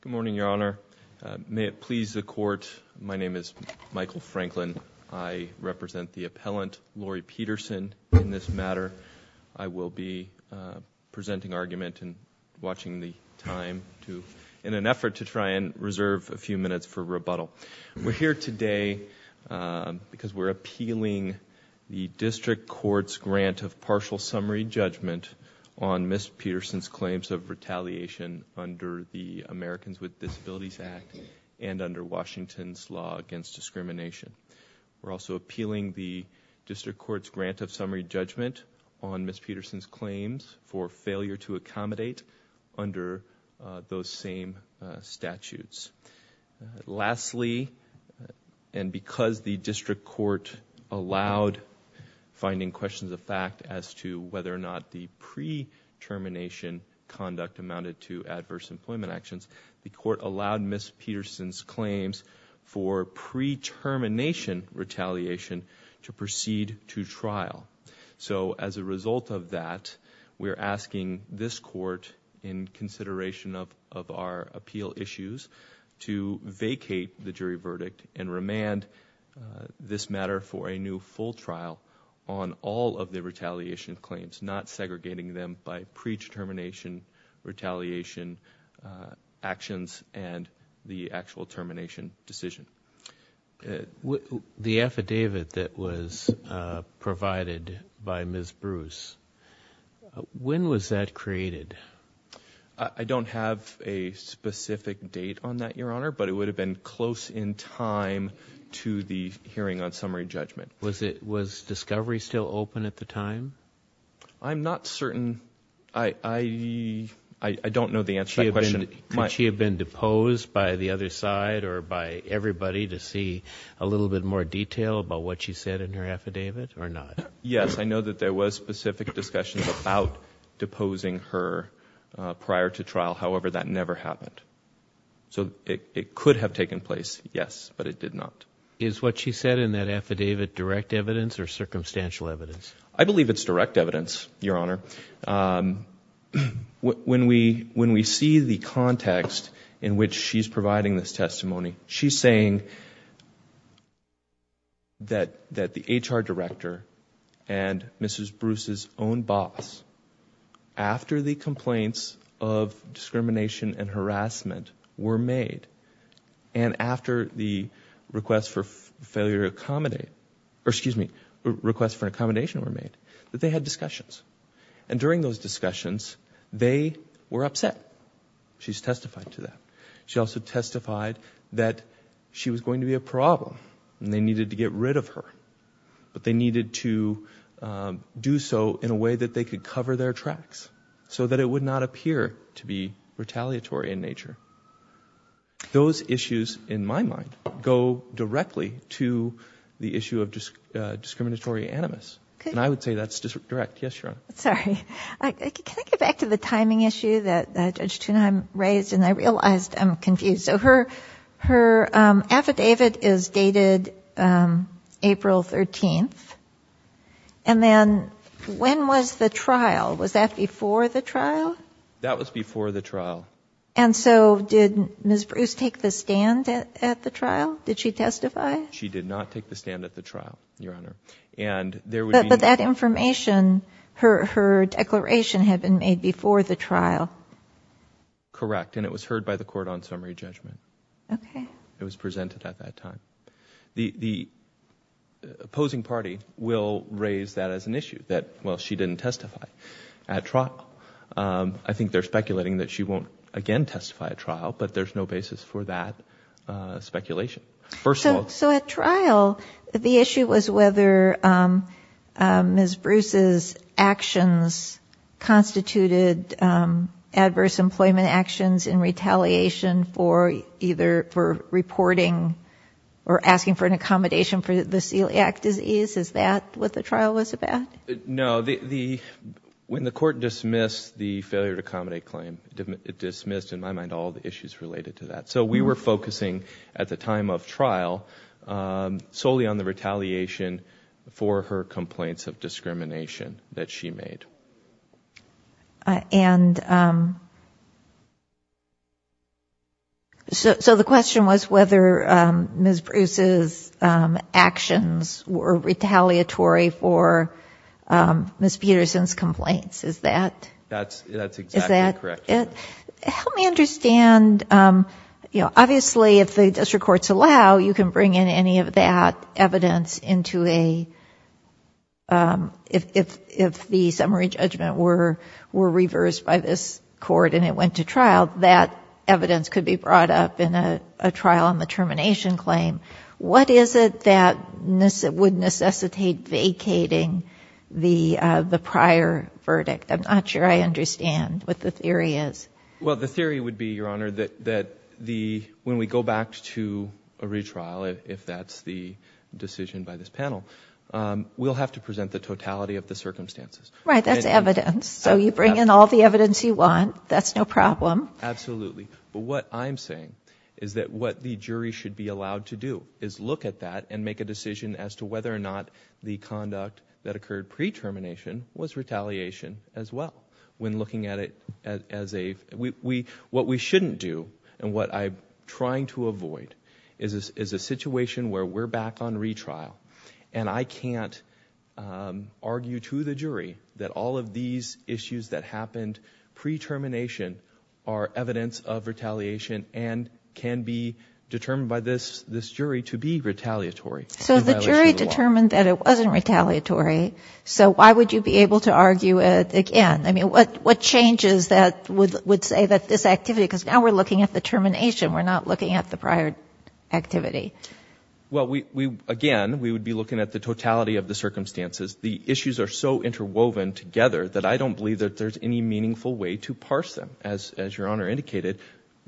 Good morning, Your Honor. May it please the Court, my name is Michael Franklin. I represent the appellant, Lori Peterson, in this matter. I will be presenting argument and watching the time in an effort to try and reserve a few minutes for rebuttal. We're here today because we're appealing the District Court's grant of partial summary judgment on Ms. Peterson's retaliation under the Americans with Disabilities Act and under Washington's law against discrimination. We're also appealing the District Court's grant of summary judgment on Ms. Peterson's claims for failure to accommodate under those same statutes. Lastly, and because the District conduct amounted to adverse employment actions, the Court allowed Ms. Peterson's claims for pre-termination retaliation to proceed to trial. So as a result of that, we're asking this Court, in consideration of our appeal issues, to vacate the jury verdict and remand this matter for a new full trial on all of the retaliation claims, not segregating them by pre-determination retaliation actions and the actual termination decision. The affidavit that was provided by Ms. Bruce, when was that created? I don't have a specific date on that, Your Honor, but it would have been close in time to the hearing on summary judgment. Was discovery still open at the time? I'm not certain. I don't know the answer to that question. Could she have been deposed by the other side or by everybody to see a little bit more detail about what she said in her affidavit or not? Yes, I know that there was specific discussion about deposing her prior to trial. However, that never happened. So it could have taken place, yes, but it did not. Is what she said in that affidavit direct evidence or circumstantial evidence? I believe it's direct evidence, Your Honor. When we see the context in which she's providing this testimony, she's saying that the HR director and Mrs. Bruce's own boss, after the complaints of discrimination and harassment were made and after the request for an accommodation were made, that they had discussions. During those discussions, they were upset. She's testified to that. She also testified that she was going to be a problem and they needed to get rid of her, but they needed to do so in a way that they could cover their tracks so that it would not appear to be retaliatory in nature. Those issues, in my mind, go directly to the issue of discriminatory animus. And I would say that's direct. Yes, Your Honor. Sorry. Can I get back to the timing issue that Judge Tuneheim raised? And I realized I'm confused. So her affidavit is dated April 13th. And then when was the trial? Was that before the trial? That was before the trial. And so did Ms. Bruce take the stand at the trial? Did she testify? She did not take the stand at the trial, Your Honor. But that information, her declaration had been made before the trial. Correct. And it was heard by the court on summary judgment. Okay. It was presented at that time. The opposing party will raise that as an issue, that, well, she didn't testify at trial. I think they're speculating that she won't again testify at trial, but there's no basis for that speculation. First of all... So at trial, the issue was whether Ms. Bruce's actions constituted adverse employment actions in retaliation for either for reporting or asking for an accommodation for the celiac disease. Is that what the trial was about? No. When the court dismissed the failure to accommodate claim, it dismissed, in my mind, all the issues related to that. So we were focusing at the time of trial solely on the retaliation for her complaints of discrimination that she made. And so the question was whether Ms. Bruce's actions would constitute adverse or retaliatory for Ms. Peterson's complaints. Is that... That's exactly correct. Help me understand. Obviously, if the district courts allow, you can bring in any of that evidence into a... If the summary judgment were reversed by this court and it went to trial, that evidence could be brought up in a trial on the termination claim. What is it that would necessitate vacating the prior verdict? I'm not sure I understand what the theory is. Well, the theory would be, Your Honor, that when we go back to a retrial, if that's the decision by this panel, we'll have to present the totality of the circumstances. Right, that's evidence. So you bring in all the evidence you want, that's no problem. Absolutely. But what I'm saying is that what the jury should be allowed to do is look at that and make a decision as to whether or not the conduct that occurred pre-termination was retaliation as well. When looking at it as a... What we shouldn't do and what I'm trying to avoid is a situation where we're back on retrial and I can't argue to the jury that all of these issues that happened pre-termination are evidence of retaliation and can be determined by this jury to be retaliatory in violation of the law. So the jury determined that it wasn't retaliatory, so why would you be able to argue it again? I mean, what changes that would say that this activity... Because now we're looking at the termination, we're not looking at the prior activity. Well, again, we would be looking at the totality of the circumstances. The issues are so interwoven together that I don't believe that there's any meaningful way to parse them, as your Honor indicated.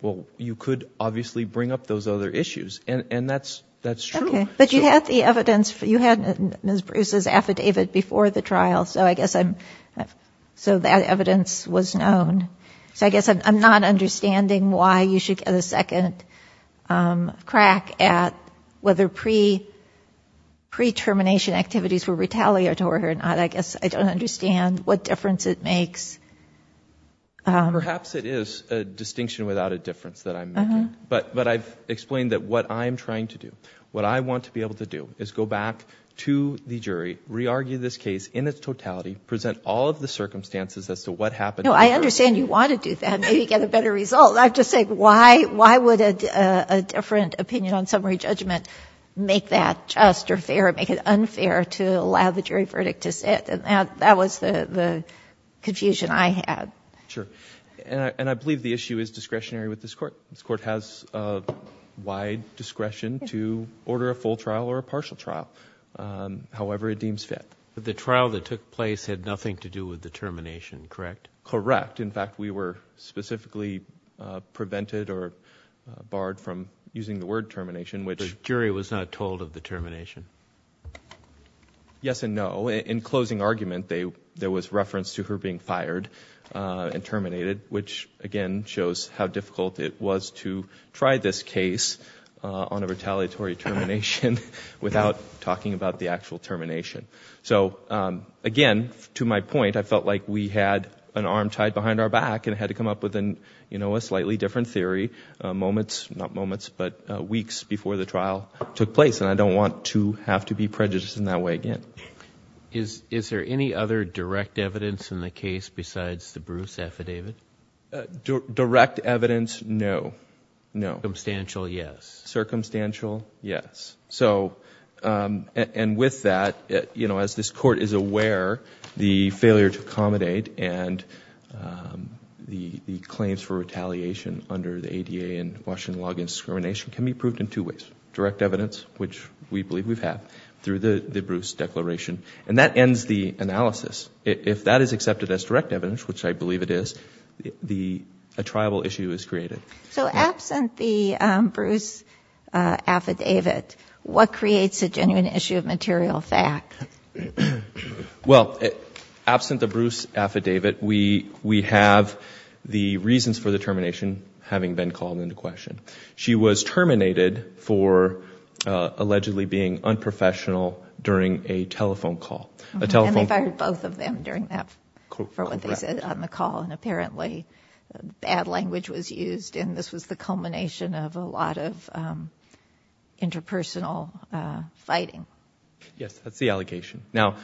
Well, you could obviously bring up those other issues and that's true. Okay. But you had the evidence, you had Ms. Bruce's affidavit before the trial, so I guess I'm... So that evidence was known. So I guess I'm not understanding why you should make a second crack at whether pre-termination activities were retaliatory or not. I guess I don't understand what difference it makes. Perhaps it is a distinction without a difference that I'm making, but I've explained that what I'm trying to do, what I want to be able to do is go back to the jury, re-argue this case in its totality, present all of the circumstances as to what happened... No, I understand you want to do that, maybe get a better result. I'm just saying, why would a different opinion on summary judgment make that just or fair or make it unfair to allow the jury verdict to sit? That was the confusion I had. Sure. And I believe the issue is discretionary with this Court. This Court has a wide discretion to order a full trial or a partial trial, however it deems fit. The trial that took place had nothing to do with the termination, correct? Correct. In fact, we were specifically prevented or barred from using the word termination, which... The jury was not told of the termination? Yes and no. In closing argument, there was reference to her being fired and terminated, which again shows how difficult it was to try this case on a retaliatory termination without talking about the actual termination. So again, to my point, I felt like we had an arm tied behind our back and had to come up with a slightly different theory moments, not moments, but weeks before the trial took place and I don't want to have to be prejudiced in that way again. Is there any other direct evidence in the case besides the Bruce affidavit? Direct evidence, no. Circumstantial, yes. Circumstantial, yes. And with that, as this Court is aware, the failure to accommodate and the claims for retaliation under the ADA and Washington law against discrimination can be proved in two ways. Direct evidence, which we believe we've had through the Bruce declaration. And that ends the analysis. If that is accepted as direct evidence, which I believe it is, a triable issue is created. So absent the Bruce affidavit, what creates a genuine issue of material fact? Well, absent the Bruce affidavit, we have the reasons for the termination having been called into question. She was terminated for allegedly being unprofessional during a telephone call. And they fired both of them for what they said on the call and apparently bad language was used and this was the culmination of a lot of interpersonal fighting. Yes, that's the allegation. Now,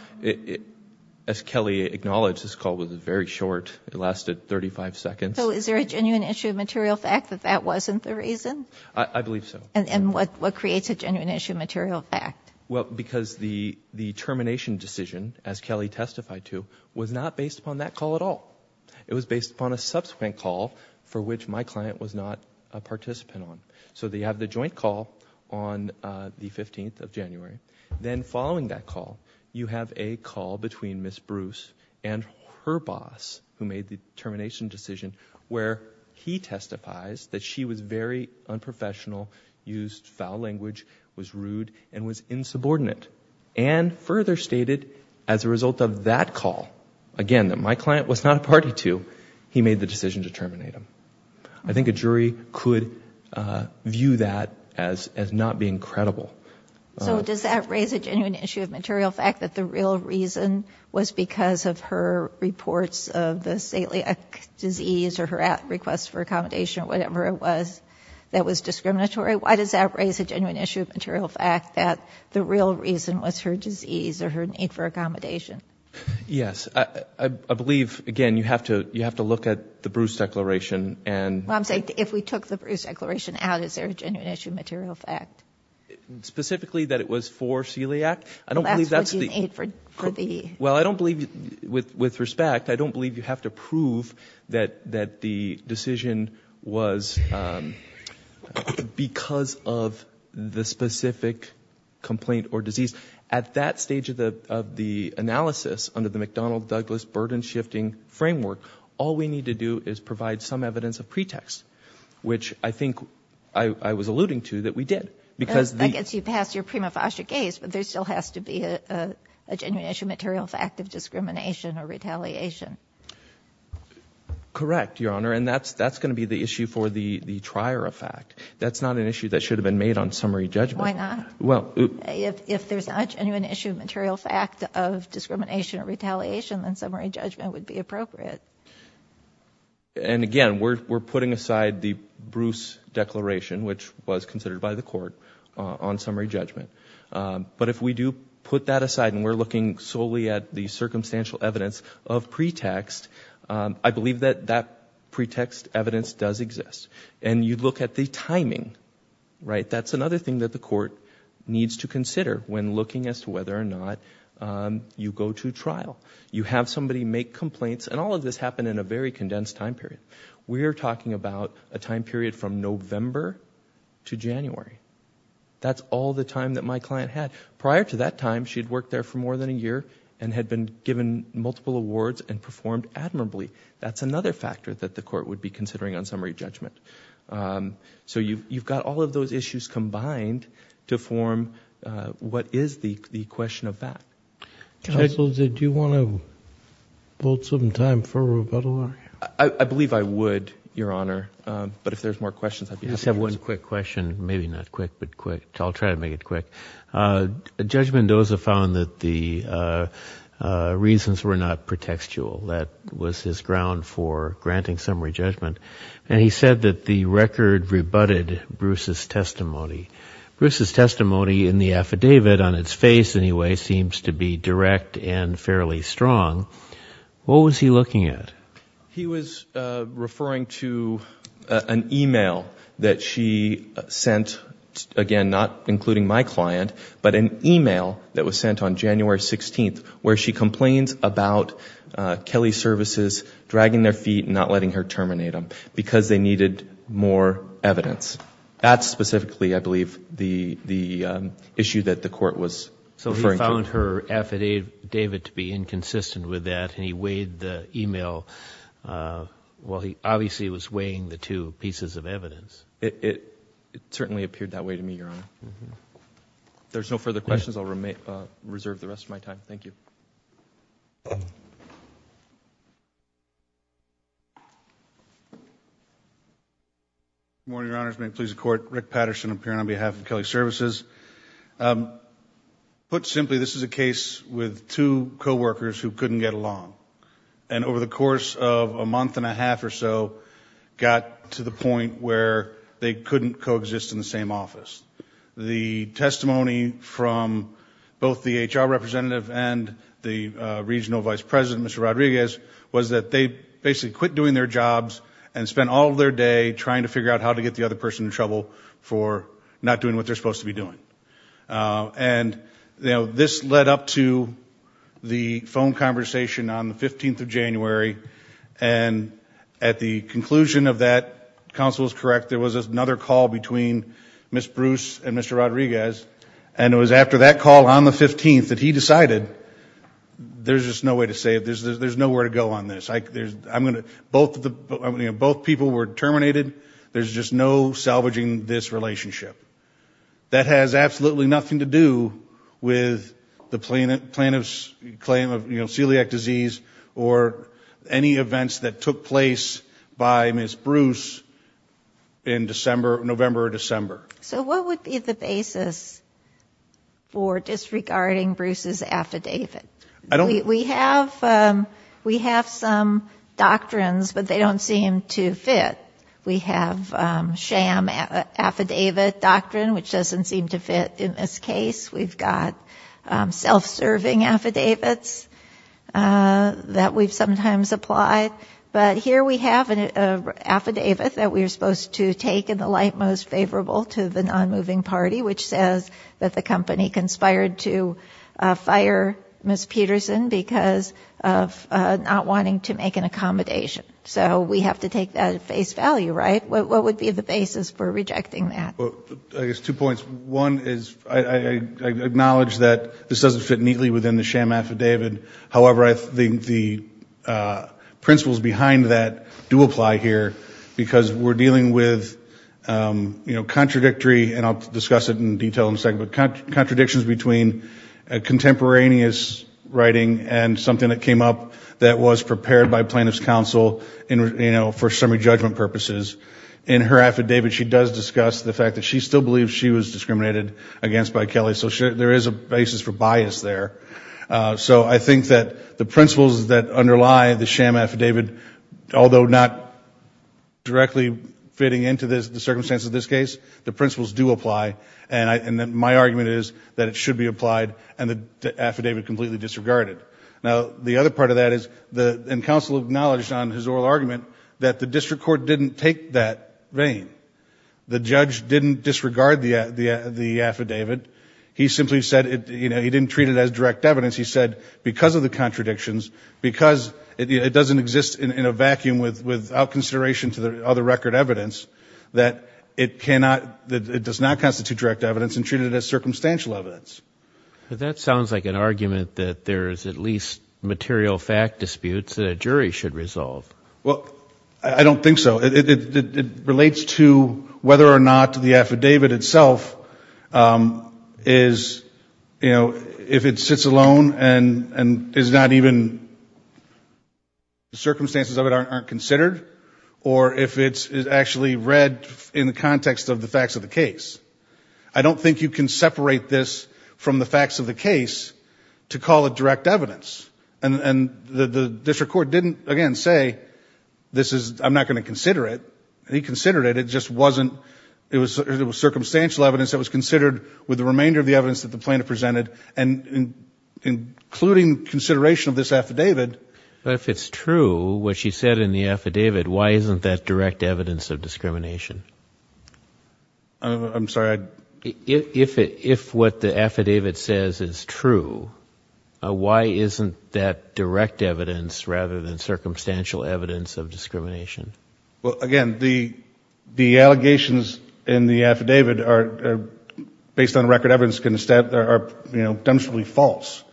as Kelly acknowledged, this call was very short. It lasted 35 seconds. So is there a genuine issue of material fact that that wasn't the reason? I believe so. And what creates a genuine issue of material fact? Well, because the termination decision, as Kelly testified to, was not based upon that call at all. It was based upon a subsequent call for which my client was not a participant on. So they have the joint call on the 15th of January. Then following that call, you have a call between Ms. Bruce and her boss who made the termination decision where he And further stated, as a result of that call, again, that my client was not a party to, he made the decision to terminate him. I think a jury could view that as not being credible. So does that raise a genuine issue of material fact that the real reason was because of her reports of the celiac disease or her request for accommodation or whatever it was that was discriminatory? Why does that raise a genuine issue of material fact that the real reason was her disease or her need for accommodation? Yes. I believe, again, you have to look at the Bruce declaration and Well, I'm saying if we took the Bruce declaration out, is there a genuine issue of material fact? Specifically that it was for celiac? I don't believe that's the Well, that's what you need for the Well, I don't believe, with respect, I don't believe you have to prove that the decision was because of the specific complaint or disease. At that stage of the analysis under the McDonnell-Douglas burden-shifting framework, all we need to do is provide some evidence of pretext, which I think I was alluding to that we did, because I guess you passed your prima facie case, but there still has to be a genuine issue of material fact of discrimination or retaliation. Correct, Your Honor, and that's going to be the issue for the trier of fact. That's not an issue that should have been made on summary judgment. Why not? Well, If there's not a genuine issue of material fact of discrimination or retaliation, then summary judgment would be appropriate. And again, we're putting aside the Bruce declaration, which was considered by the court, on summary judgment. But if we do put that aside and we're looking solely at the circumstantial evidence of pretext, I believe that that pretext evidence does exist. And you look at the timing. That's another thing that the court needs to consider when looking as to whether or not you go to trial. You have somebody make complaints, and all of this happened in a very condensed time period. We're talking about a time period from November to January. That's all the time that my client had. Prior to that time, she'd worked there for more than a year and had been given multiple awards and performed admirably. That's another factor that the court would be considering on summary judgment. So you've got all of those issues combined to form what is the question of fact. Counsel, did you want to hold some time for rebuttal? I believe I would, Your Honor. But if there's more questions, I'd be happy to answer. I just have one quick question. Maybe not quick, but quick. I'll try to make it quick. Judge Mendoza found that the reasons were not pretextual. That was his ground for granting summary judgment. And he said that the record rebutted Bruce's testimony. Bruce's testimony in the affidavit, on its face anyway, seems to be direct and fairly strong. What was he looking at? He was referring to an e-mail that she sent, again, not including my client, but referring to an e-mail that was sent on January 16th where she complained about Kelley Services dragging their feet and not letting her terminate him because they needed more evidence. That's specifically, I believe, the issue that the court was referring to. So he found her affidavit to be inconsistent with that and he weighed the e-mail. Well, it certainly appeared that way to me, Your Honor. If there's no further questions, I'll reserve the rest of my time. Thank you. Good morning, Your Honors. May it please the Court. Rick Patterson appearing on behalf of Kelley Services. Put simply, this is a case with two coworkers who couldn't get along. And over the course of a month and a half or so, got to the point where they couldn't coexist in the same office. The testimony from both the HR representative and the Regional Vice President, Mr. Rodriguez, was that they basically quit doing their jobs and spent all of their day trying to figure out how to get the other person in trouble for not doing what they're supposed to be doing. And, you know, this led up to the phone conversation on the 15th of January. And at the conclusion of that, counsel is correct, there was another call between Ms. Bruce and Mr. Rodriguez. And it was after that call on the 15th that he decided, there's just no way to save this, there's nowhere to go on this. Both people were terminated. There's just no salvaging this relationship. That has absolutely nothing to do with the plaintiff's claim of celiac disease or any events that took place by Ms. Bruce in November or December. So what would be the basis for disregarding Bruce's affidavit? We have some doctrines, but they don't seem to fit. We have sham affidavit doctrine, which doesn't seem to fit in this case. We've got self-serving affidavits that we've sometimes applied. But here we have an affidavit that we're supposed to take in the light most favorable to the nonmoving party, which says that the company conspired to fire Ms. Peterson because of not wanting to make an accommodation. So we have to take that at face value, right? What would be the basis for rejecting that? I guess two points. One is I acknowledge that this doesn't fit neatly within the sham affidavit. However, I think the principles behind that do apply here because we're dealing with, you know, contradictory, and I'll discuss it in detail in a second, but contradictions between contemporaneous writing and something that came up that was prepared by plaintiff's counsel for summary judgment purposes. In her affidavit, she does discuss the fact that she still believes she was discriminated against by Kelly. So there is a basis for bias there. So I think that the principles that underlie the sham affidavit, although not directly fitting into the circumstances of this case, the principles do apply. And my argument is that it should be applied and the affidavit completely disregarded. Now the other part of that is, and counsel acknowledged on his oral argument, that the district court didn't take that vein. The judge didn't disregard the affidavit. He simply said, you know, he didn't treat it as direct evidence. He said because of the contradictions, because it doesn't exist in a vacuum without consideration to the other record evidence, that it cannot, it does not constitute direct evidence and treat it as circumstantial evidence. That sounds like an argument that there is at least material fact disputes that a jury should resolve. Well, I don't think so. It relates to whether or not the affidavit itself is, you know, if it sits alone and is not even, the circumstances of it aren't considered, or if it's actually read in the context of the facts of the case. I don't think you can separate this from the facts of the case to call it direct evidence. And the district court didn't, again, say this is, I'm not going to consider it. He considered it. It just wasn't, it was circumstantial evidence that was considered with the remainder of the evidence that the plaintiff presented, and including consideration of this affidavit. But if it's true, what she said in the affidavit, why isn't that direct evidence of discrimination? I'm sorry, I... If what the affidavit says is true, why isn't that direct evidence rather than circumstantial evidence of discrimination? Well, again, the allegations in the affidavit are, based on record evidence, are, you know, are presumptively false.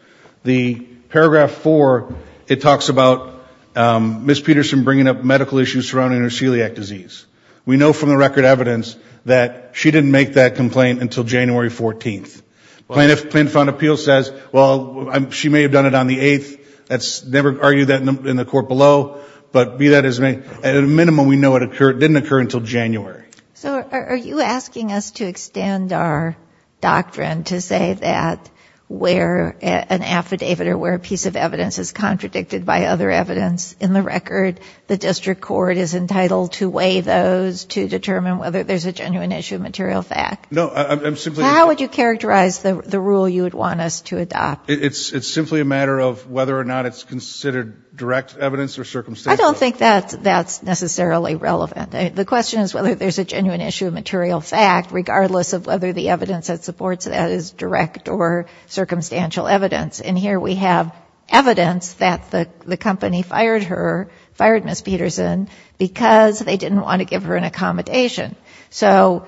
The paragraph four, it talks about Ms. Peterson bringing up medical issues surrounding her celiac disease. We know from the record evidence that she didn't make that complaint until January 14th. Plaintiff on appeal says, well, she may have done it on the 8th, let's never argue that in the court below, but be that as it may, at a minimum we know it didn't occur until January. So are you asking us to extend our doctrine to say that where an affidavit or where a piece of evidence is contradicted by other evidence in the record, the district court is entitled to weigh those to determine whether there's a genuine issue of material fact? No, I'm simply... How would you characterize the rule you would want us to adopt? It's simply a matter of whether or not it's considered direct evidence or circumstantial. I don't think that's necessarily relevant. The question is whether there's a genuine issue of material fact, regardless of whether the evidence that supports that is direct or circumstantial evidence. And here we have evidence that the company fired her, fired Ms. Peterson, because they didn't want to give her an accommodation. So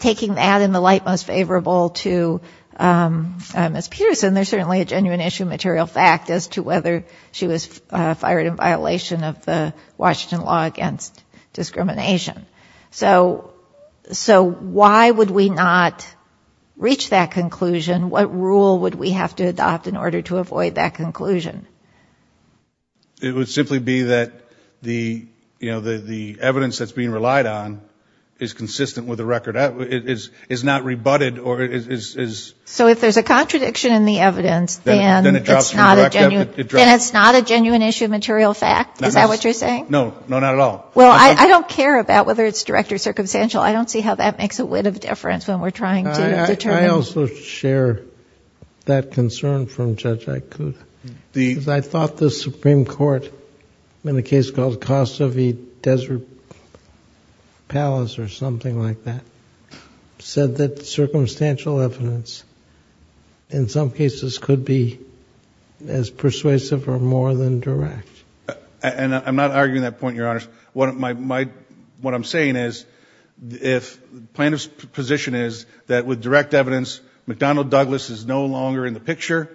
taking that in the light most favorable to Ms. Peterson, there's certainly a genuine issue of material fact as to whether she was fired in violation of the Washington law against discrimination. So why would we not reach that conclusion? What rule would we have to adopt in order to avoid that conclusion? It would simply be that the evidence that's being relied on is consistent with the record, is not rebutted or is... So if there's a contradiction in the evidence, then it's not a genuine issue of material fact? Is that what you're saying? No. No, not at all. Well, I don't care about whether it's direct or circumstantial. I don't see how that makes a whiff of difference when we're trying to determine... I also share that concern from Judge Aikud. I thought the Supreme Court, in a case called Kosovi Desert Palace or something like that, said that circumstantial evidence is not a direct evidence. In some cases, could be as persuasive or more than direct. And I'm not arguing that point, Your Honor. What I'm saying is, if plaintiff's position is that with direct evidence, McDonnell Douglas is no longer in the picture,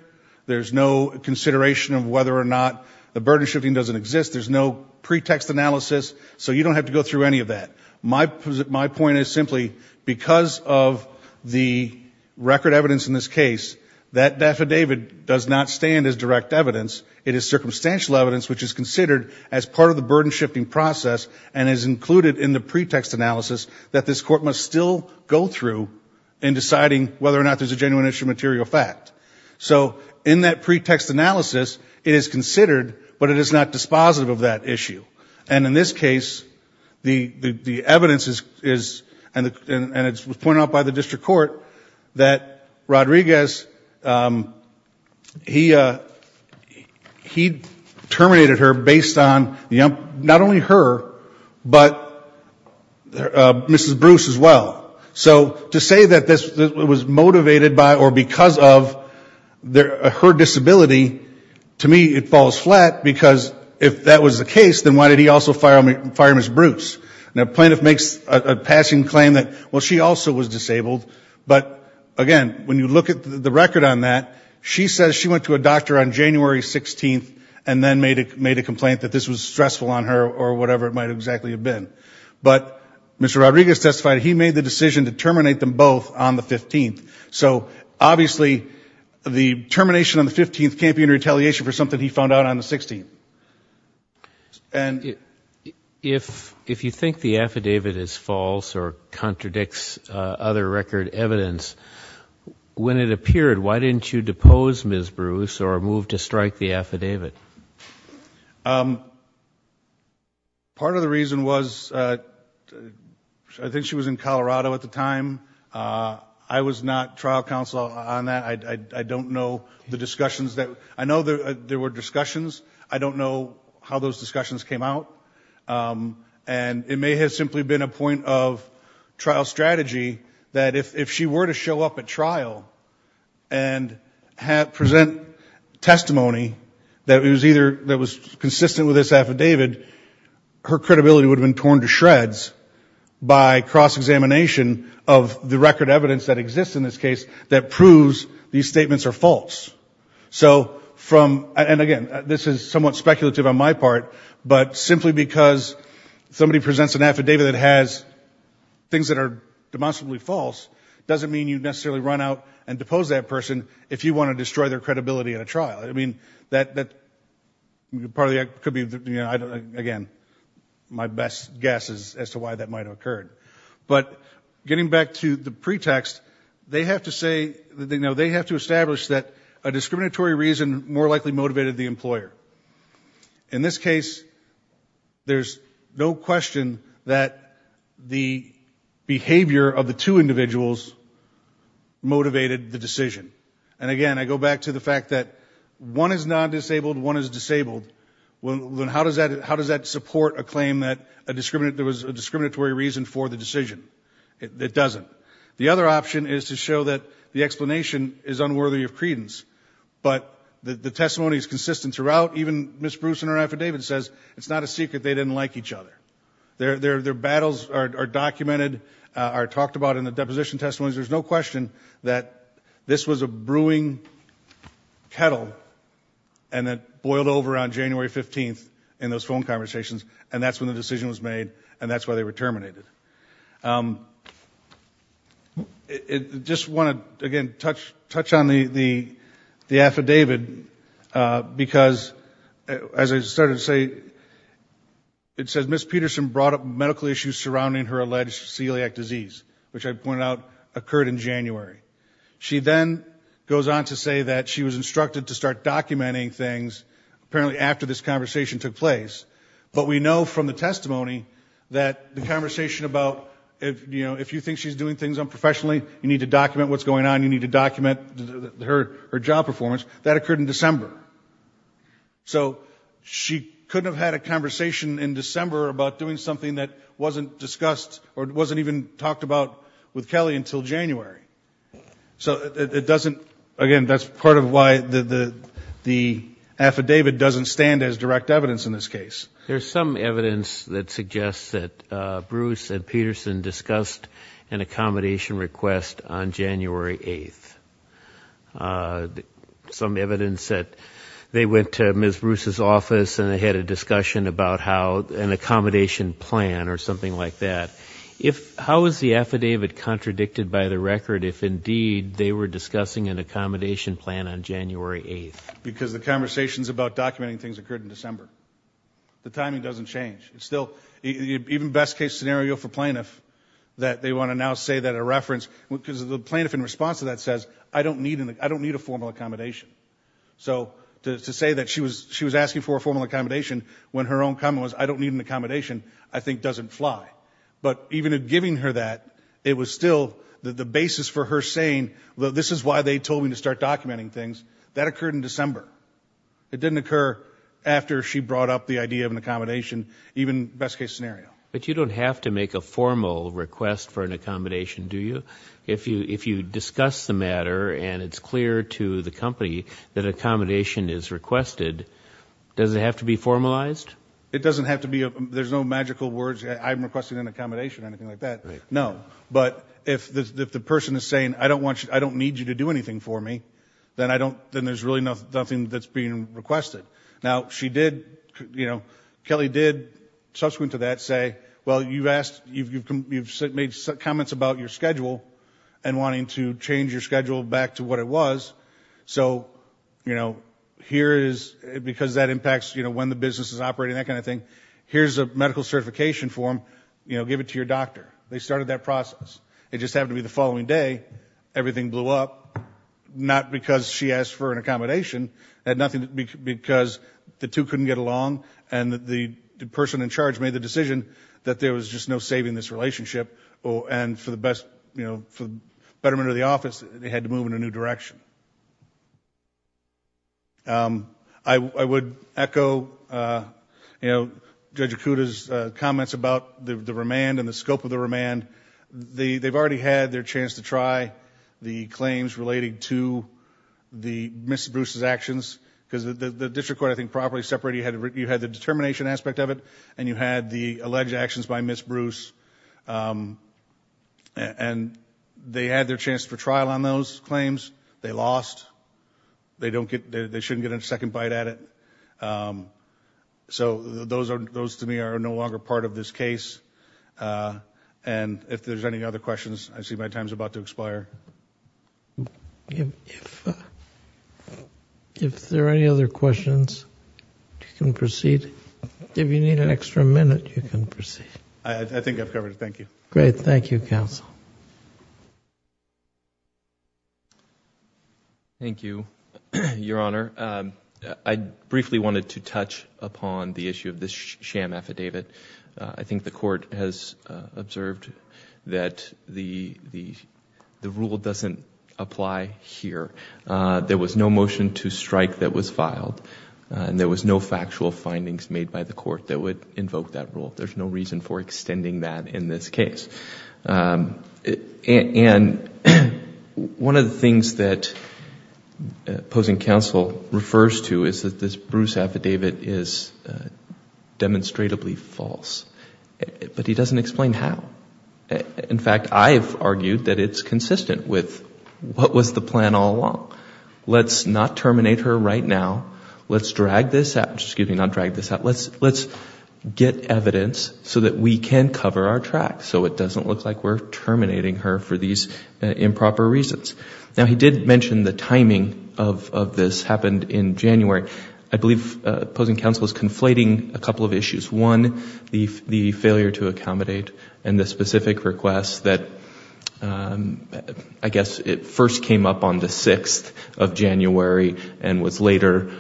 there's no consideration of whether or not the burden shifting doesn't exist, there's no pretext analysis, so you don't have to go through any of that. My point is simply, because of the record evidence in this case, that affidavit does not stand as direct evidence. It is circumstantial evidence, which is considered as part of the burden shifting process and is included in the pretext analysis that this Court must still go through in deciding whether or not there's a genuine issue of material fact. So in that pretext analysis, it is considered, but it is not dispositive of that issue. And in this case, the evidence is, and it was pointed out by the District Court, that Rodriguez, he terminated her based on not only her, but Mrs. Bruce as well. So to say that this was motivated by or because of her disability, to me it falls flat, because if that was the case, why would you fire Mrs. Bruce? A plaintiff makes a passing claim that, well, she also was disabled, but again, when you look at the record on that, she says she went to a doctor on January 16th and then made a complaint that this was stressful on her or whatever it might exactly have been. But Mr. Rodriguez testified that he made the decision to terminate them both on the 15th. So obviously, the termination on the 15th can't be a retaliation for something that he found out on the 16th. If you think the affidavit is false or contradicts other record evidence, when it appeared, why didn't you depose Mrs. Bruce or move to strike the affidavit? Part of the reason was, I think she was in Colorado at the time. I was not trial counsel on that. I don't know the discussions that, I know there were discussions. I don't know how those discussions came out. And it may have simply been a point of trial strategy that if she were to show up at trial and present testimony that was either, that was consistent with this affidavit, her credibility would have been torn to shreds by cross-examination of the record evidence that exists in this case that proves these statements are false. So from, and again, this is somewhat speculative on my part, but simply because somebody presents an affidavit that has things that are demonstrably false, doesn't mean you necessarily run out and depose that person if you want to destroy their credibility at a trial. I mean, that probably could be, again, my best guess as to why that might have occurred. But getting back to the pretext, they have to say, no, they have to establish that a discriminatory reason more likely motivated the employer. In this case, there's no question that the behavior of the two individuals motivated the decision. And again, I go back to the fact that one is non-disabled, one is disabled. How does that support a claim that there was a discriminatory reason for the decision? It doesn't. The other option is to show that the explanation is unworthy of credence, but the testimony is consistent throughout. Even Ms. Bruce in her affidavit says it's not a secret they didn't like each other. Their battles are documented, are talked about in the deposition testimonies. There's no question that this was a brewing kettle and it boiled over on January 15th in those phone conversations, and that's when the decision was made, and that's why they were terminated. Just want to, again, touch on the affidavit, because as I started to say, it says Ms. Peterson brought up medical issues surrounding her alleged celiac disease, which I pointed out occurred in January. She then goes on to say that she was instructed to start documenting things apparently after this conversation took place, but we know from the testimony that the conversation about, you know, if you think she's doing things unprofessionally, you need to document what's going on, you need to document her job performance, that occurred in December. So she couldn't have had a conversation in December about doing something that wasn't discussed or wasn't even talked about with Kelly until January. So it doesn't, again, that's part of why the affidavit doesn't stand as direct evidence in this case. There's some evidence that suggests that Bruce and Peterson discussed an accommodation request on January 8th. Some evidence that they went to Ms. Bruce's office and they had a discussion about how an accommodation plan or something like that. How is the affidavit contradicted by the record if indeed they were discussing an accommodation plan on January 8th? Because the conversations about documenting things occurred in December. The timing doesn't change. It's still, even best case scenario for plaintiff that they want to now say that a reference, because the plaintiff in response to that says, I don't need a formal accommodation. So to say that she was asking for a formal accommodation when her own comment was I don't need an accommodation, I think doesn't fly. But even in giving her that, it was still the basis for her saying this is why they told me to start documenting things. That occurred in December. It didn't occur after she brought up the idea of an accommodation, even best case scenario. But you don't have to make a formal request for an accommodation, do you? If you discuss the matter and it's clear to the company that an accommodation is requested, does it have to be formalized? It doesn't have to be. There's no magical words. I'm requesting an accommodation or anything like that. No. But if the person is saying I don't need you to do anything for me, then there's really nothing that's being requested. Now, she did, you know, Kelly did subsequent to that say, well, you've asked, you've made comments about your schedule and wanting to change your schedule back to what it was. So, you know, here is, because that was operating, that kind of thing. Here's a medical certification form, you know, give it to your doctor. They started that process. It just happened to be the following day, everything blew up, not because she asked for an accommodation, but because the two couldn't get along and the person in charge made the decision that there was just no saving this relationship. And for the betterment of the office, they had to move in a new direction. I would echo, you know, Judge Acuda's comments about the remand and the scope of the remand. They've already had their chance to try the claims relating to the Ms. Bruce's actions because the district court, I think, properly separated. You had the determination aspect of it and you had the alleged actions by Ms. Bruce. And they had their chance for trial on those claims. They lost. They shouldn't get a second bite at it. So those, to me, are no longer part of this case. And if there's any other questions, I see my time is about to expire. If there are any other questions, you can proceed. If you need an extra minute, you can proceed. I think I've covered it. Thank you. Great. Thank you, counsel. Thank you, Your Honor. I briefly wanted to touch upon the issue of this sham affidavit. I think the court has observed that the rule doesn't apply here. There was no motion to strike that was filed and there was no factual findings made by the court that would invoke that rule. There's no reason for extending that in this case. And one of the things that opposing counsel refers to is that this Bruce affidavit is demonstrably false. But he doesn't explain how. In fact, I've argued that it's consistent with what was the plan all along. Let's not terminate her right now. Let's drag this out Let's get evidence so that we can cover our tracks so it doesn't look like we're terminating her for these improper reasons. Now, he did mention the timing of this happened in January. I believe opposing counsel is conflating a couple of issues. One, the failure to accommodate and the specific request that I guess first came up on the 6th of January and was later,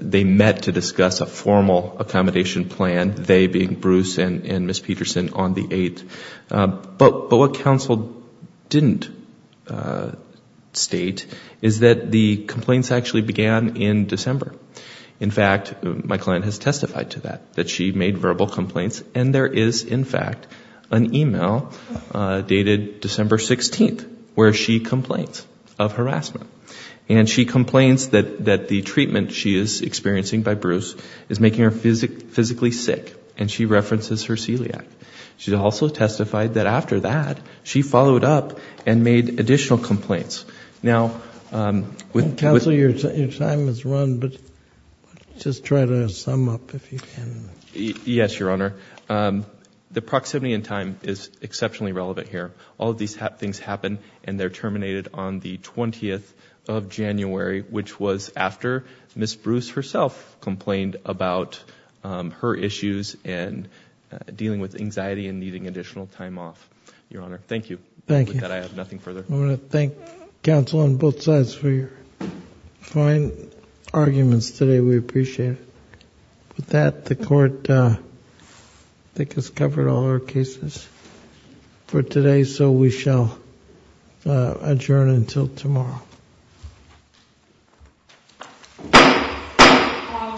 they met to discuss a formal accommodation plan, they being Bruce and Ms. Peterson on the 8th. But what counsel didn't state is that the complaints actually began in December. In fact, my client has testified to that, that she made verbal complaints. And there is, in fact, an e-mail dated December 16th where she complains of harassment. And she complains that the treatment she is experiencing by Bruce is making her physically sick. And she references her celiac. She also testified that after that, she followed up and made additional complaints. Counsel, your time has run, but just try to sum up if you can. Yes, Your Honor. The proximity and time is exceptionally relevant here. All of these things happen and they're terminated on the 20th of January, which was after Ms. Bruce herself complained about her issues and dealing with anxiety and needing additional time off, Your Honor. Thank you. With that, I have nothing further. I want to thank counsel on both sides for your fine arguments today. We appreciate it. With that, the court, I think, has covered all our cases for today, so we shall adjourn until tomorrow.